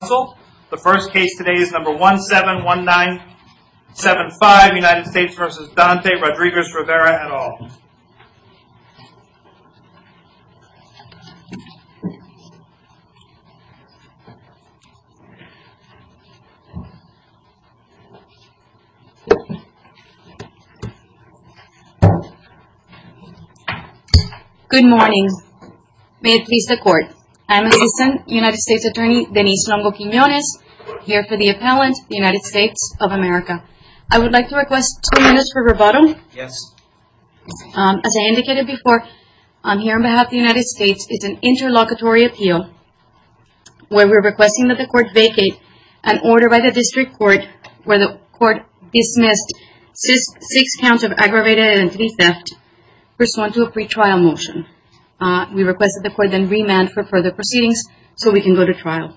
Council. The first case today is number 171975 United States v. Dante Rodriguez-Rivera et al. Good morning. May it please the court. I'm Assistant United States Attorney Denise Longo-Quinones here for the appellant United States of America. I would like to request two minutes for rebuttal. Yes. As I indicated before, I'm here on behalf of the United States. It's an interlocutory appeal where we're requesting that the court vacate an order by the district court where the court dismissed six counts of aggravated identity theft pursuant to a pretrial motion. We requested the court then remand for further proceedings so we can go to trial.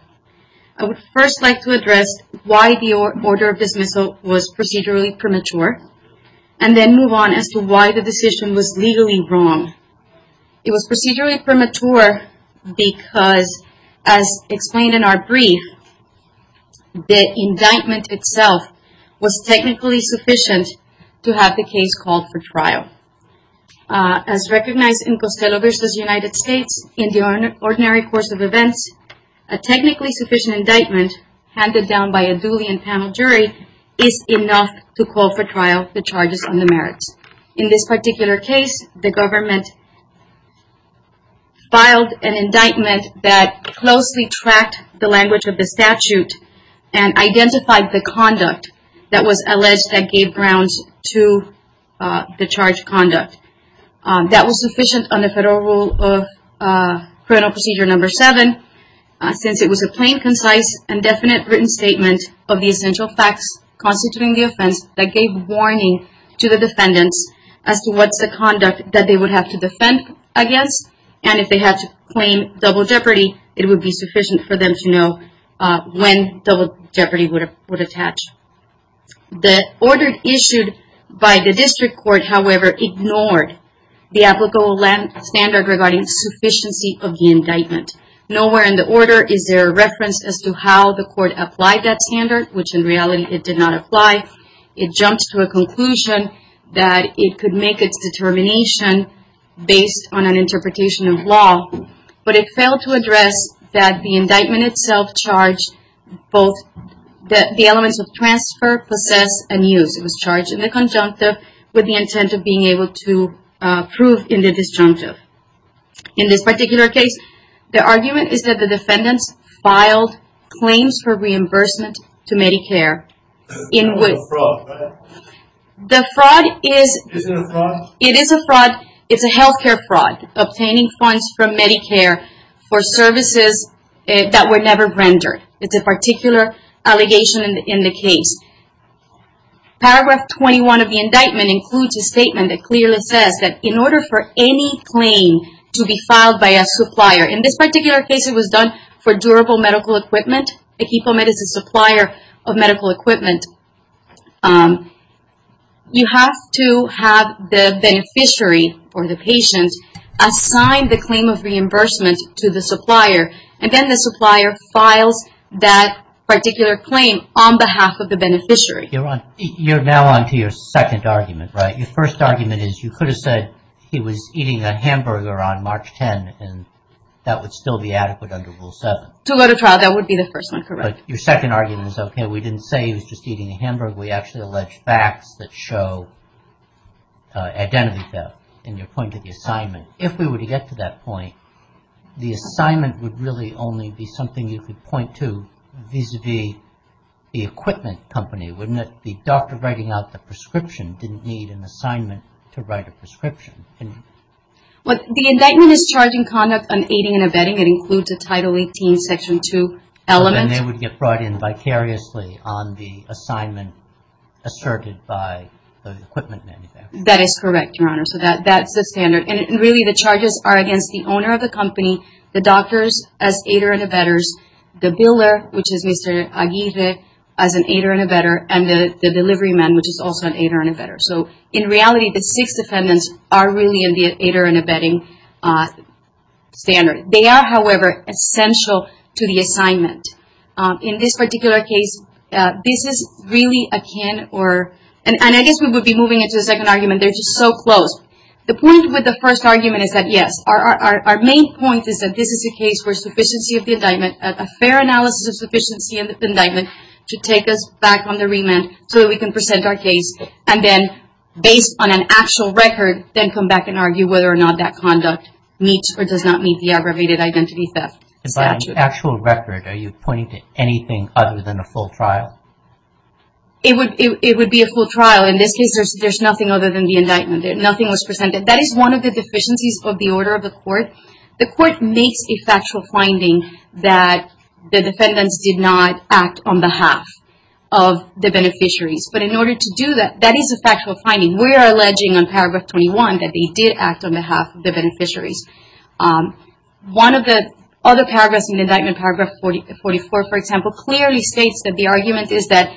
I would first like to address why the order of dismissal was procedurally premature and then move on as to why the decision was legally wrong. It was procedurally premature because, as explained in our brief, the indictment itself was technically sufficient to have the case called for trial. As recognized in Costello v. United States, in the ordinary course of events, a technically sufficient indictment handed down by a duly and panel jury is enough to call for trial for charges on the merits. In this particular case, the government filed an indictment that closely tracked the language of the statute and identified the conduct that was alleged that gave grounds to the charged conduct. That was sufficient on the federal rule of criminal procedure number seven since it was a plain, concise, and definite written statement of the essential facts constituting the offense that gave warning to the defendants as to what's the conduct that they would have to defend against. And if they had to claim double jeopardy, it would be sufficient for them to know when double jeopardy would attach. The order issued by the district court, however, ignored the applicable standard regarding sufficiency of the indictment. Nowhere in the order is there a reference as to how the court applied that standard, which in reality it did not apply. It jumped to a conclusion that it could make its determination based on an interpretation of law, but it failed to address that the indictment itself charged both the elements of transfer, possess, and use. It was charged in the conjunctive with the intent of being able to prove in the disjunctive. In this particular case, the argument is that the defendants filed claims for reimbursement to Medicare. The fraud is a healthcare fraud, obtaining funds from Medicare for services that were never rendered. It's a particular allegation in the case. Paragraph 21 of the indictment includes a statement that clearly says that in order for any claim to be filed by a supplier, in this particular case it was done for durable medical equipment. Equipment is a supplier of medical equipment. You have to have the beneficiary or the patient assign the claim of reimbursement to the supplier, and then the supplier files that particular claim on behalf of the beneficiary. You're now on to your second argument, right? Your first argument is you could have said he was eating a hamburger on March 10, and that would still be adequate under Rule 7. To go to trial, that would be the first one, correct. Your second argument is, okay, we didn't say he was just eating a hamburger. We actually alleged facts that show identity theft in your point of the assignment. If we were to get to that point, the assignment would really only be something you could point to vis-a-vis the equipment company, wouldn't it? The doctor writing out the prescription didn't need an assignment to write a prescription. The indictment is charging conduct aiding and abetting. It includes a Title 18, Section 2 element. They would get brought in vicariously on the assignment asserted by the equipment manufacturer. That is correct, Your Honor. That's the standard. Really, the charges are against the owner of the company, the doctors as aider and abetters, the builder, which is Mr. Aguirre, as an aider and abetter, and the delivery man, which is also an aider and abetter. In reality, the six defendants are really in the aider and abetting standard. They are, however, essential to the assignment. In this particular case, this is really akin, and I guess we would be moving into the second argument. They're just so close. The point with the first argument is that, yes, our main point is that this is a case where a fair analysis of sufficiency of the indictment should take us back the remand so that we can present our case and then, based on an actual record, then come back and argue whether or not that conduct meets or does not meet the aggravated identity theft statute. By an actual record, are you pointing to anything other than a full trial? It would be a full trial. In this case, there's nothing other than the indictment. Nothing was presented. That is one of the deficiencies of the order of the court. The court makes a factual finding that the defendants did not act on behalf of the beneficiaries, but in order to do that, that is a factual finding. We are alleging on paragraph 21 that they did act on behalf of the beneficiaries. One of the other paragraphs in the indictment, paragraph 44, for example, clearly states that the argument is that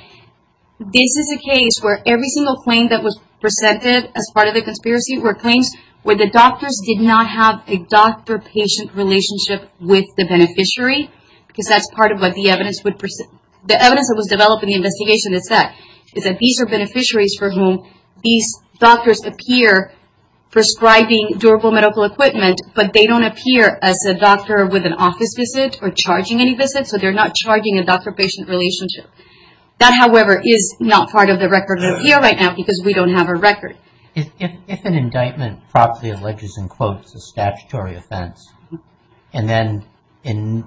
this is a case where every single claim that presented as part of the conspiracy were claims where the doctors did not have a doctor-patient relationship with the beneficiary, because that's part of what the evidence would present. The evidence that was developed in the investigation is that these are beneficiaries for whom these doctors appear prescribing durable medical equipment, but they don't appear as a doctor with an office visit or charging any visits, so they're not charging a doctor-patient relationship. That, however, is not part of the record of appeal right now because we don't have a record. If an indictment properly alleges in quotes a statutory offense, and then in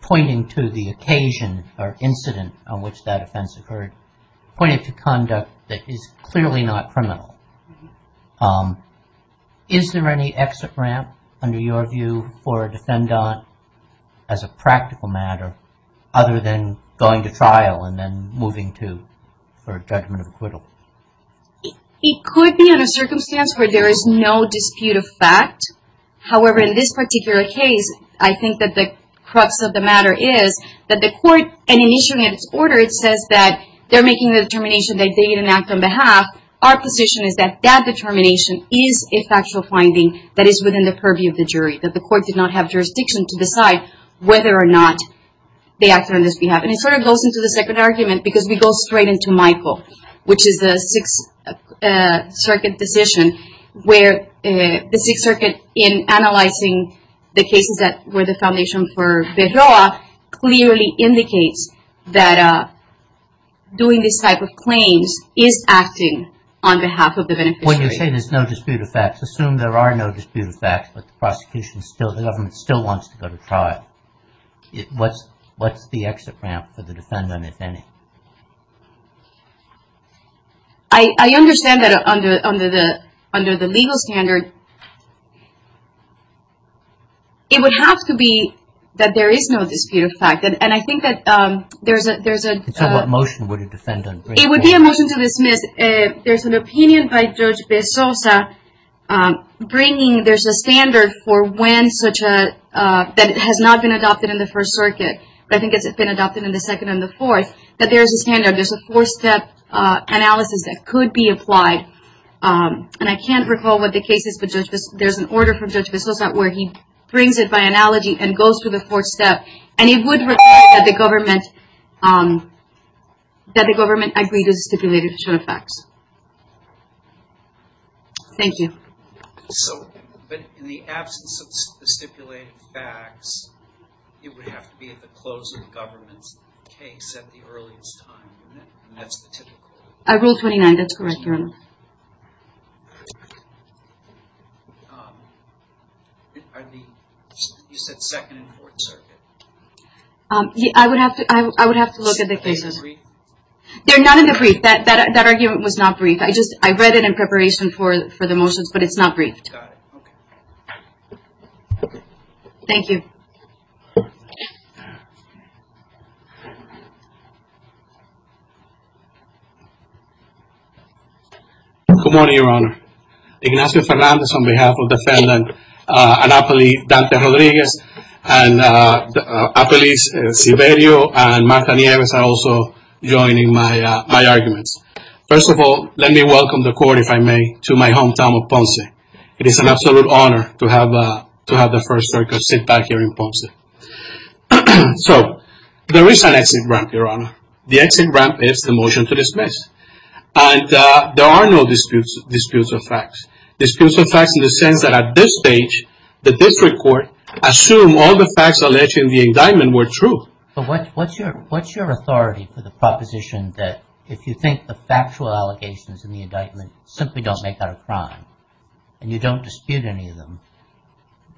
pointing to the occasion or incident on which that offense occurred, pointed to conduct that is clearly not criminal, is there any exit ramp under your view for a defendant as a practical matter other than going to trial and then moving to a judgment of acquittal? It could be in a circumstance where there is no dispute of fact. However, in this particular case, I think that the crux of the matter is that the court, and in issuing its order, it says that they're making the determination that they didn't act on behalf. Our position is that that determination is a factual finding that is within the purview of the jury, that the court did not have jurisdiction to decide whether or not they acted on this behalf. It sort of goes into the second argument because we go straight into Michael, which is the Sixth Circuit decision where the Sixth Circuit, in analyzing the cases that were the foundation for Bedroa, clearly indicates that doing this type of claims is acting on behalf of the beneficiary. When you say there's no dispute of facts, assume there are no dispute of facts, but the government still wants to go to trial. What's the exit ramp for the defendant, if any? I understand that under the legal standard, it would have to be that there is no dispute of fact, and I think that there's a... So what motion would a defendant bring forward? It would be a motion to dismiss. There's an opinion by Judge Bezosa bringing, there's a standard for when such a, that has not been adopted in the First Circuit, but I think it's been adopted in the Second and the Fourth, that there's a standard, there's a four-step analysis that could be applied, and I can't recall what the case is, but there's an order from Judge Bezosa where he brings it by analogy and goes through the fourth step, and it would require that the government agree to the stipulated action of facts. Thank you. So, but in the absence of the stipulated facts, it would have to be at the close of the government's case at the earliest time, and that's the typical... I ruled 29, that's correct, Your Honor. Are the, you said Second and Fourth Circuit. I would have to, I would have to look at the cases. Are they brief? They're not in the brief. That, that, that argument was not brief. I just, I read it in preparation for, for the motions, but it's not briefed. Thank you. Good morning, Your Honor. Ignacio Fernandez on behalf of defendant, and appellee Dante Rodriguez, and appellees Sibelio and Marta Nieves are also joining my, my arguments. First of all, let me welcome the court, if I may, to my hometown of Ponce. It is an absolute honor to have, to have the First Circuit sit back here in Ponce. So, there is an exit ramp, Your Honor. The exit ramp is the motion to dismiss, and there are no disputes, disputes of facts. Disputes of facts in the sense that at this stage, the district court assume all the facts alleged in the indictment were true. But what, what's your, what's your authority for the proposition that if you think the factual allegations in the indictment simply don't make that a crime, and you don't dispute any of them,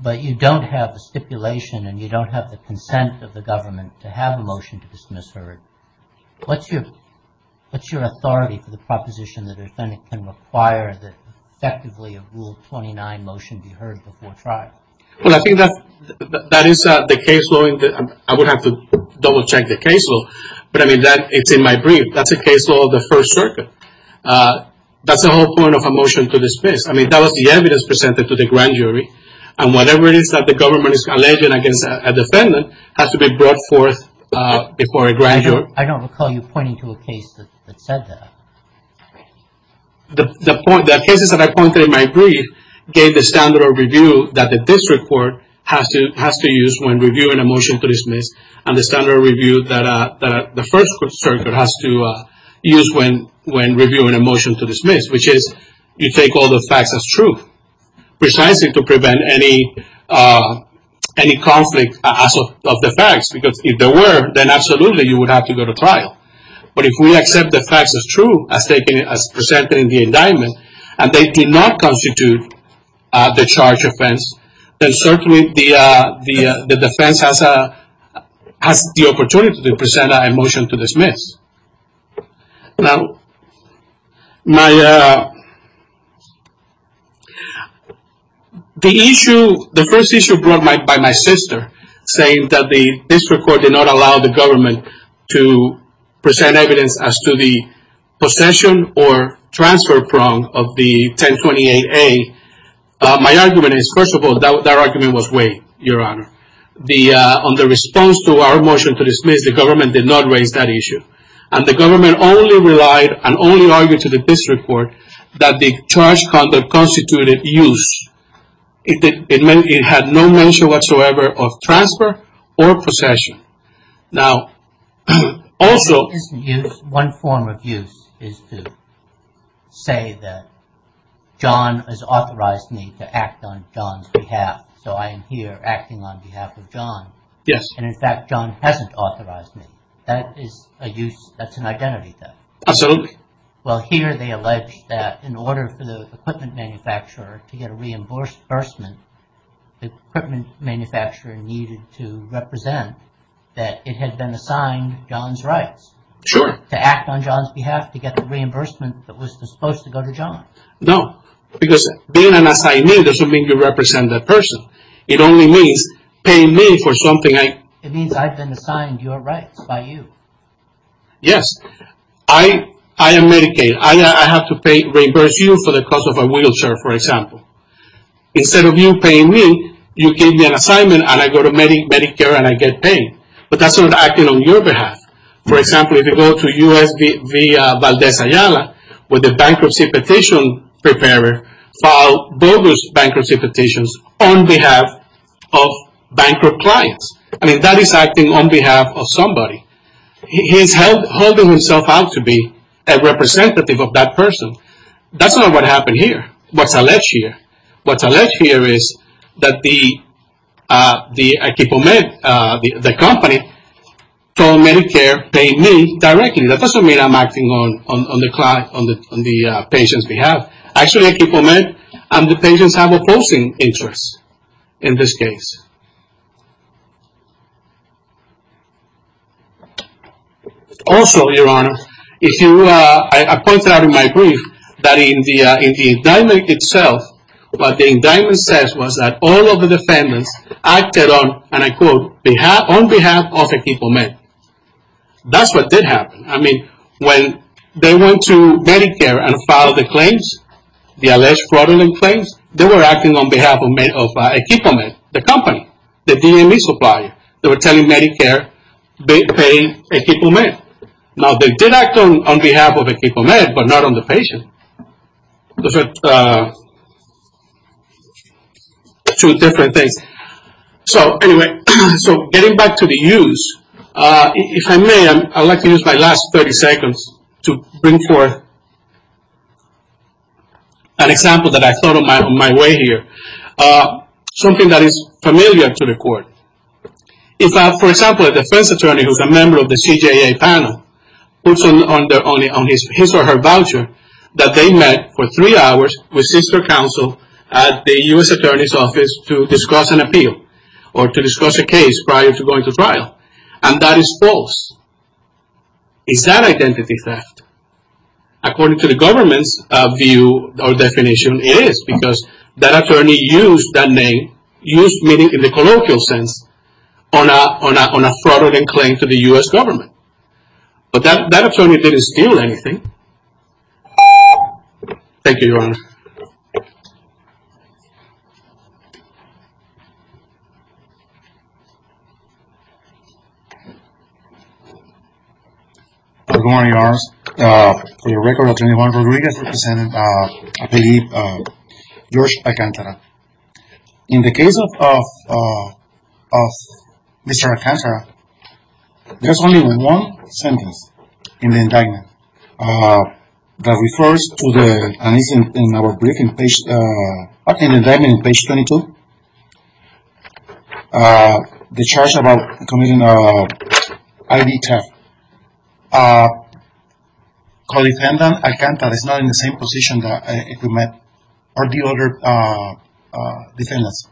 but you don't have the stipulation, and you don't have the consent of the government to have a motion to dismiss her, what's your, what's your authority for the proposition that a defendant can require that effectively a Rule 29 motion be heard before trial? Well, I think that, that is the case law, and I would have to double check the case law, but I mean that, it's in my brief. That's a case law of the First Circuit. That's the whole point of a motion to dismiss. I mean, that was the evidence presented to the grand jury, and whatever it is that the government is alleging against a defendant has to be brought forth before a grand jury. I don't recall you pointing to a case that said that. But the point, the cases that I pointed in my brief gave the standard of review that the district court has to, has to use when reviewing a motion to dismiss, and the standard of review that the First Circuit has to use when, when reviewing a motion to dismiss, which is you take all the facts as truth. Precisely to prevent any, any conflict of the facts, because if there were, then absolutely you would have to go to trial. But if we accept the facts as true, as taken, as presented in the indictment, and they did not constitute the charge offense, then certainly the, the defense has a, has the opportunity to present a motion to dismiss. Now, my, the issue, the first issue brought by my sister, saying that the district court did not allow the government to present evidence as to the possession or transfer prong of the 1028A, my argument is, first of all, that, that argument was way, your honor. The, on the response to our motion to dismiss, the government did not raise that issue. And the government only relied and only argued to the district court that the charge conduct constituted use. It did, it meant it had no mention whatsoever of transfer or possession. Now, also- It isn't use. One form of use is to say that John has authorized me to act on John's behalf. So I am here acting on behalf of John. Yes. And in fact, John hasn't authorized me. That is a use, that's an identity theft. Absolutely. Well, here they allege that in order for the equipment manufacturer to get a reimbursement, the equipment manufacturer needed to represent that it had been assigned John's rights. Sure. To act on John's behalf, to get the reimbursement that was supposed to go to John. No, because being an assignee doesn't mean you represent that person. It only means paying me for something I- It means I've been assigned your rights by you. Yes, I am Medicaid. I have to pay, reimburse you for the cost of a wheelchair, for example. Instead of you paying me, you gave me an assignment and I go to Medicare and I get paid. But that's not acting on your behalf. For example, if you go to U.S. via Valdez Ayala, where the bankruptcy petition preparer filed bogus bankruptcy petitions on behalf of bankrupt clients. I mean, that is acting on behalf of somebody. He's holding himself out to be a representative of that person. That's not what happened here. What's alleged here. What's alleged here is that the equipment, the company, told Medicare they need directly. That doesn't mean I'm acting on the client, on the patient's behalf. Actually, equipment and the patients have opposing interests in this case. Also, your honor, if you- I pointed out in my brief that in the indictment itself, what the indictment says was that all of the defendants acted on, and I quote, on behalf of Equipament. That's what did happen. I mean, when they went to Medicare and filed the claims, the alleged fraudulent claims, they were acting on behalf of Equipament, the company, the DMV supplier. They were telling Medicare, they pay Equipament. Now, they did act on behalf of Equipament, but not on the patient. Those are two different things. So anyway, so getting back to the use, if I may, I'd like to use my last 30 seconds to bring forth an example that I thought of on my way here. Something that is familiar to the court. If, for example, a defense attorney who's a member of the CJA panel puts on his or her voucher that they met for three hours with sister counsel at the U.S. attorney's office to discuss an appeal, or to discuss a case prior to going to trial, and that is false. Is that identity theft? According to the government's view or definition, it is, because that attorney used that name, used meaning in the colloquial sense, on a fraudulent claim to the U.S. government. But that attorney didn't steal anything. Thank you, Your Honor. Good morning, Your Honor. For your record, Attorney Juan Rodriguez representing APD, George Picantera. In the case of Mr. Alcantara, there's only one sentence in the indictment that refers to the, and it's in our briefing page, in the indictment on page 22, the charge about committing ID theft. Our co-defendant, Alcantara, is not in the same position that we met our other defendants.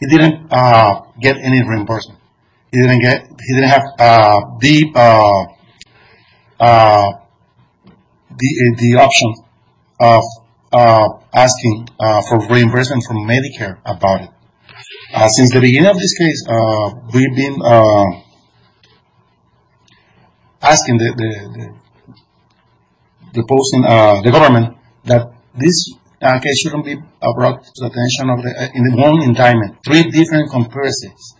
He didn't get any reimbursement. He didn't have the option of asking for reimbursement from Medicare about it. Since the beginning of this case, we've been asking the government that this case shouldn't be brought to the attention of the, in one indictment, three different comparisons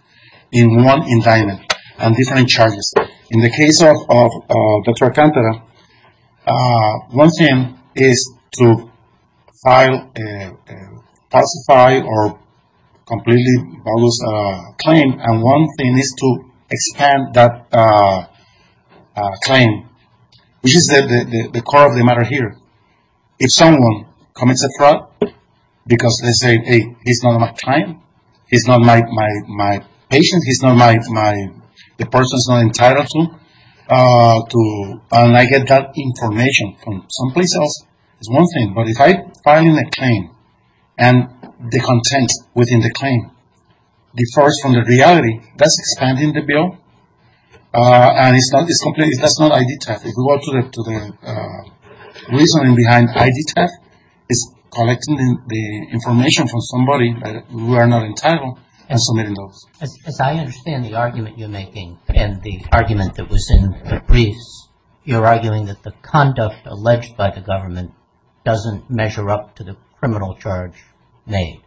in one indictment on different charges. In the case of Dr. Alcantara, one thing is to file a falsified or completely bogus claim, and one thing is to expand that claim, which is the core of the matter here. If someone commits a fraud because they say, hey, he's not my client, he's not my patient, he's not my, the person's not entitled to, and I get that information from someplace else is one thing, but if I file a claim and the content within the claim differs from the reality, that's expanding the bill, and it's not ID theft. If we go to the reasoning behind ID theft, it's collecting the information from somebody that we are not entitled and submitting those. As I understand the argument you're making and the argument that was in the briefs, you're arguing that the conduct alleged by the government doesn't measure up to the criminal charge made.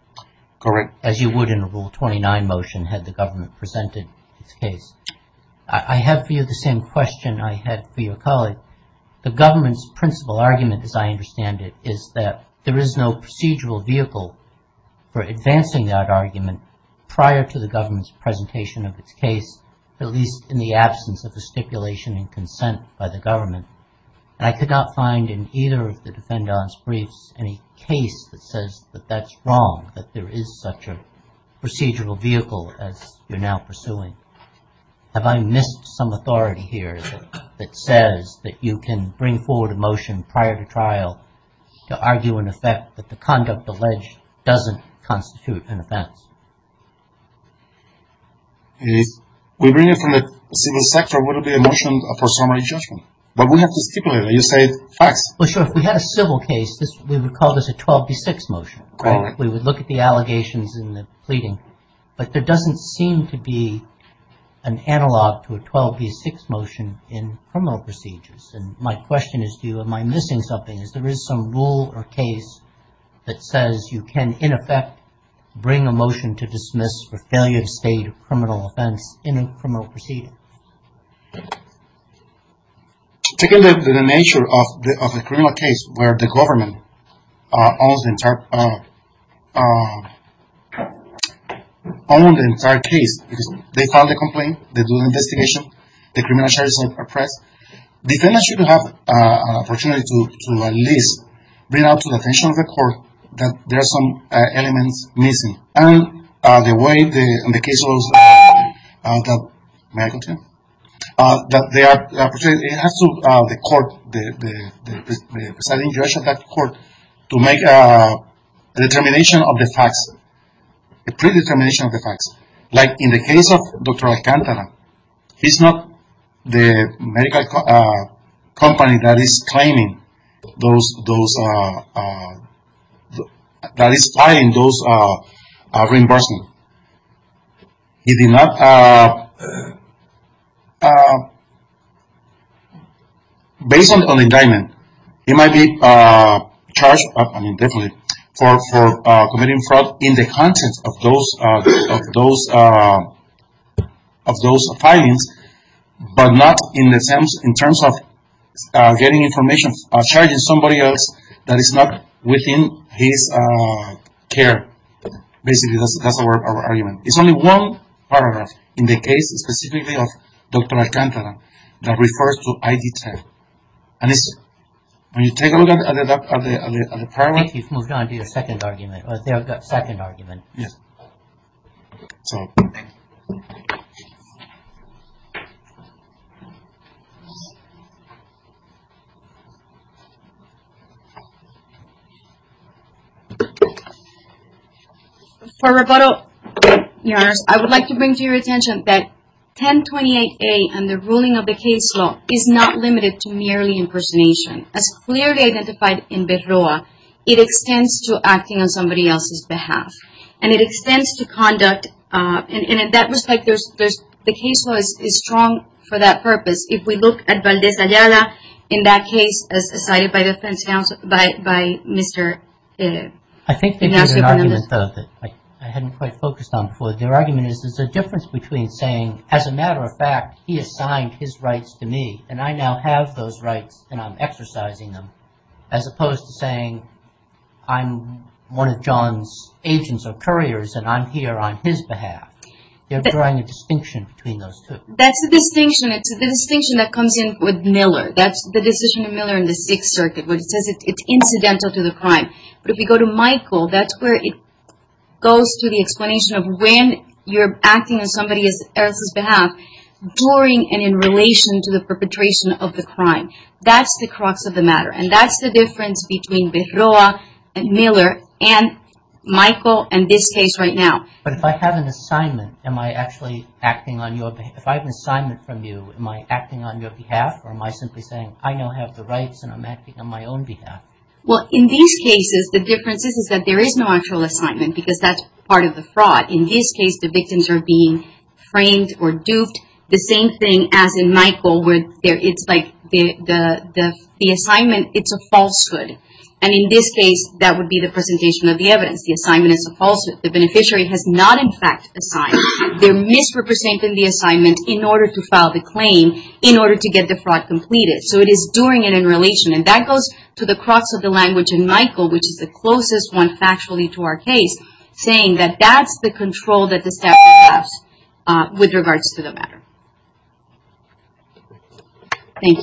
Correct. As you would in a Rule 29 motion had the government presented its case. I have for you the same question I had for your colleague. The government's principal argument, as I understand it, is that there is no procedural vehicle for advancing that argument prior to the government's presentation of its case, at least in the absence of a stipulation and consent by the government, and I could not find in either of the defendant's briefs any case that says that that's wrong, that there is such a procedural vehicle as you're now pursuing. Have I missed some authority here that says that you can bring forward a motion prior to trial to argue in effect that the conduct alleged doesn't constitute an offense? If we bring it from the civil sector, would it be a motion for summary judgment? But we have to stipulate it. You say facts. Well, sure. If we had a civil case, we would call this a 12B6 motion. Correct. We would look at the allegations and the pleading, but there doesn't seem to be an analog to a 12B6 motion in criminal procedures. My question is to you, am I missing something? Is there is some rule or case that says you can, in effect, bring a motion to dismiss for failure to state a criminal offense in a criminal procedure? Taking the nature of the criminal case where the government owns the entire case, they file the complaint, they do the investigation, the criminal charges are pressed. Defendants should have an opportunity to at least bring out to the attention of the court that there are some elements missing. And the way the case goes, it has to the court, the presiding judge of that court, to make a determination of the facts, a predetermination of the facts. Like in the case of Dr. Alcantara, he's not the medical company that is filing those reimbursements. Based on the indictment, he might be charged, I mean definitely, for committing fraud in the content of those filings, but not in terms of getting information, charging somebody else that is not within his care. Basically, that's our argument. It's only one paragraph in the case specifically of Dr. Alcantara that refers to ID10. Can you take a look at the paragraph? You've moved on to your second argument, or their second argument. Yes. For rebuttal, your honors, I would like to bring to your attention that 1028A and the ruling of the case law is not limited to merely impersonation. As clearly identified in Berroa, it extends to acting on somebody else's behalf. And it extends to conduct, and in that respect, the case law is strong for that purpose. If we look at Valdez Ayala, in that case, as cited by Mr. Ignacio Fernandez. I think they did an argument, though, that I hadn't quite focused on before. Their argument is there's a difference between saying, as a matter of fact, he assigned his rights, and I'm exercising them, as opposed to saying, I'm one of John's agents or couriers, and I'm here on his behalf. They're drawing a distinction between those two. That's the distinction. It's the distinction that comes in with Miller. That's the decision of Miller in the Sixth Circuit, where it says it's incidental to the crime. But if we go to Michael, that's where it goes to the explanation of when you're acting on somebody else's behalf, during and in relation to the perpetration of the crime. That's the crux of the matter. And that's the difference between Berroa and Miller, and Michael, and this case right now. But if I have an assignment, am I actually acting on your behalf? If I have an assignment from you, am I acting on your behalf? Or am I simply saying, I now have the rights, and I'm acting on my own behalf? Well, in these cases, the difference is that there is no actual assignment, because that's part of the fraud. In this case, the victims are being framed or duped. The same thing as in Michael, where it's like the assignment, it's a falsehood. And in this case, that would be the presentation of the evidence. The assignment is a falsehood. The beneficiary has not, in fact, assigned. They're misrepresenting the assignment in order to file the claim, in order to get the fraud completed. So it is during and in relation. And that goes to the crux of the language in Michael, which is the closest one factually to our case, saying that that's the control that the staff has with regards to the matter. Thank you.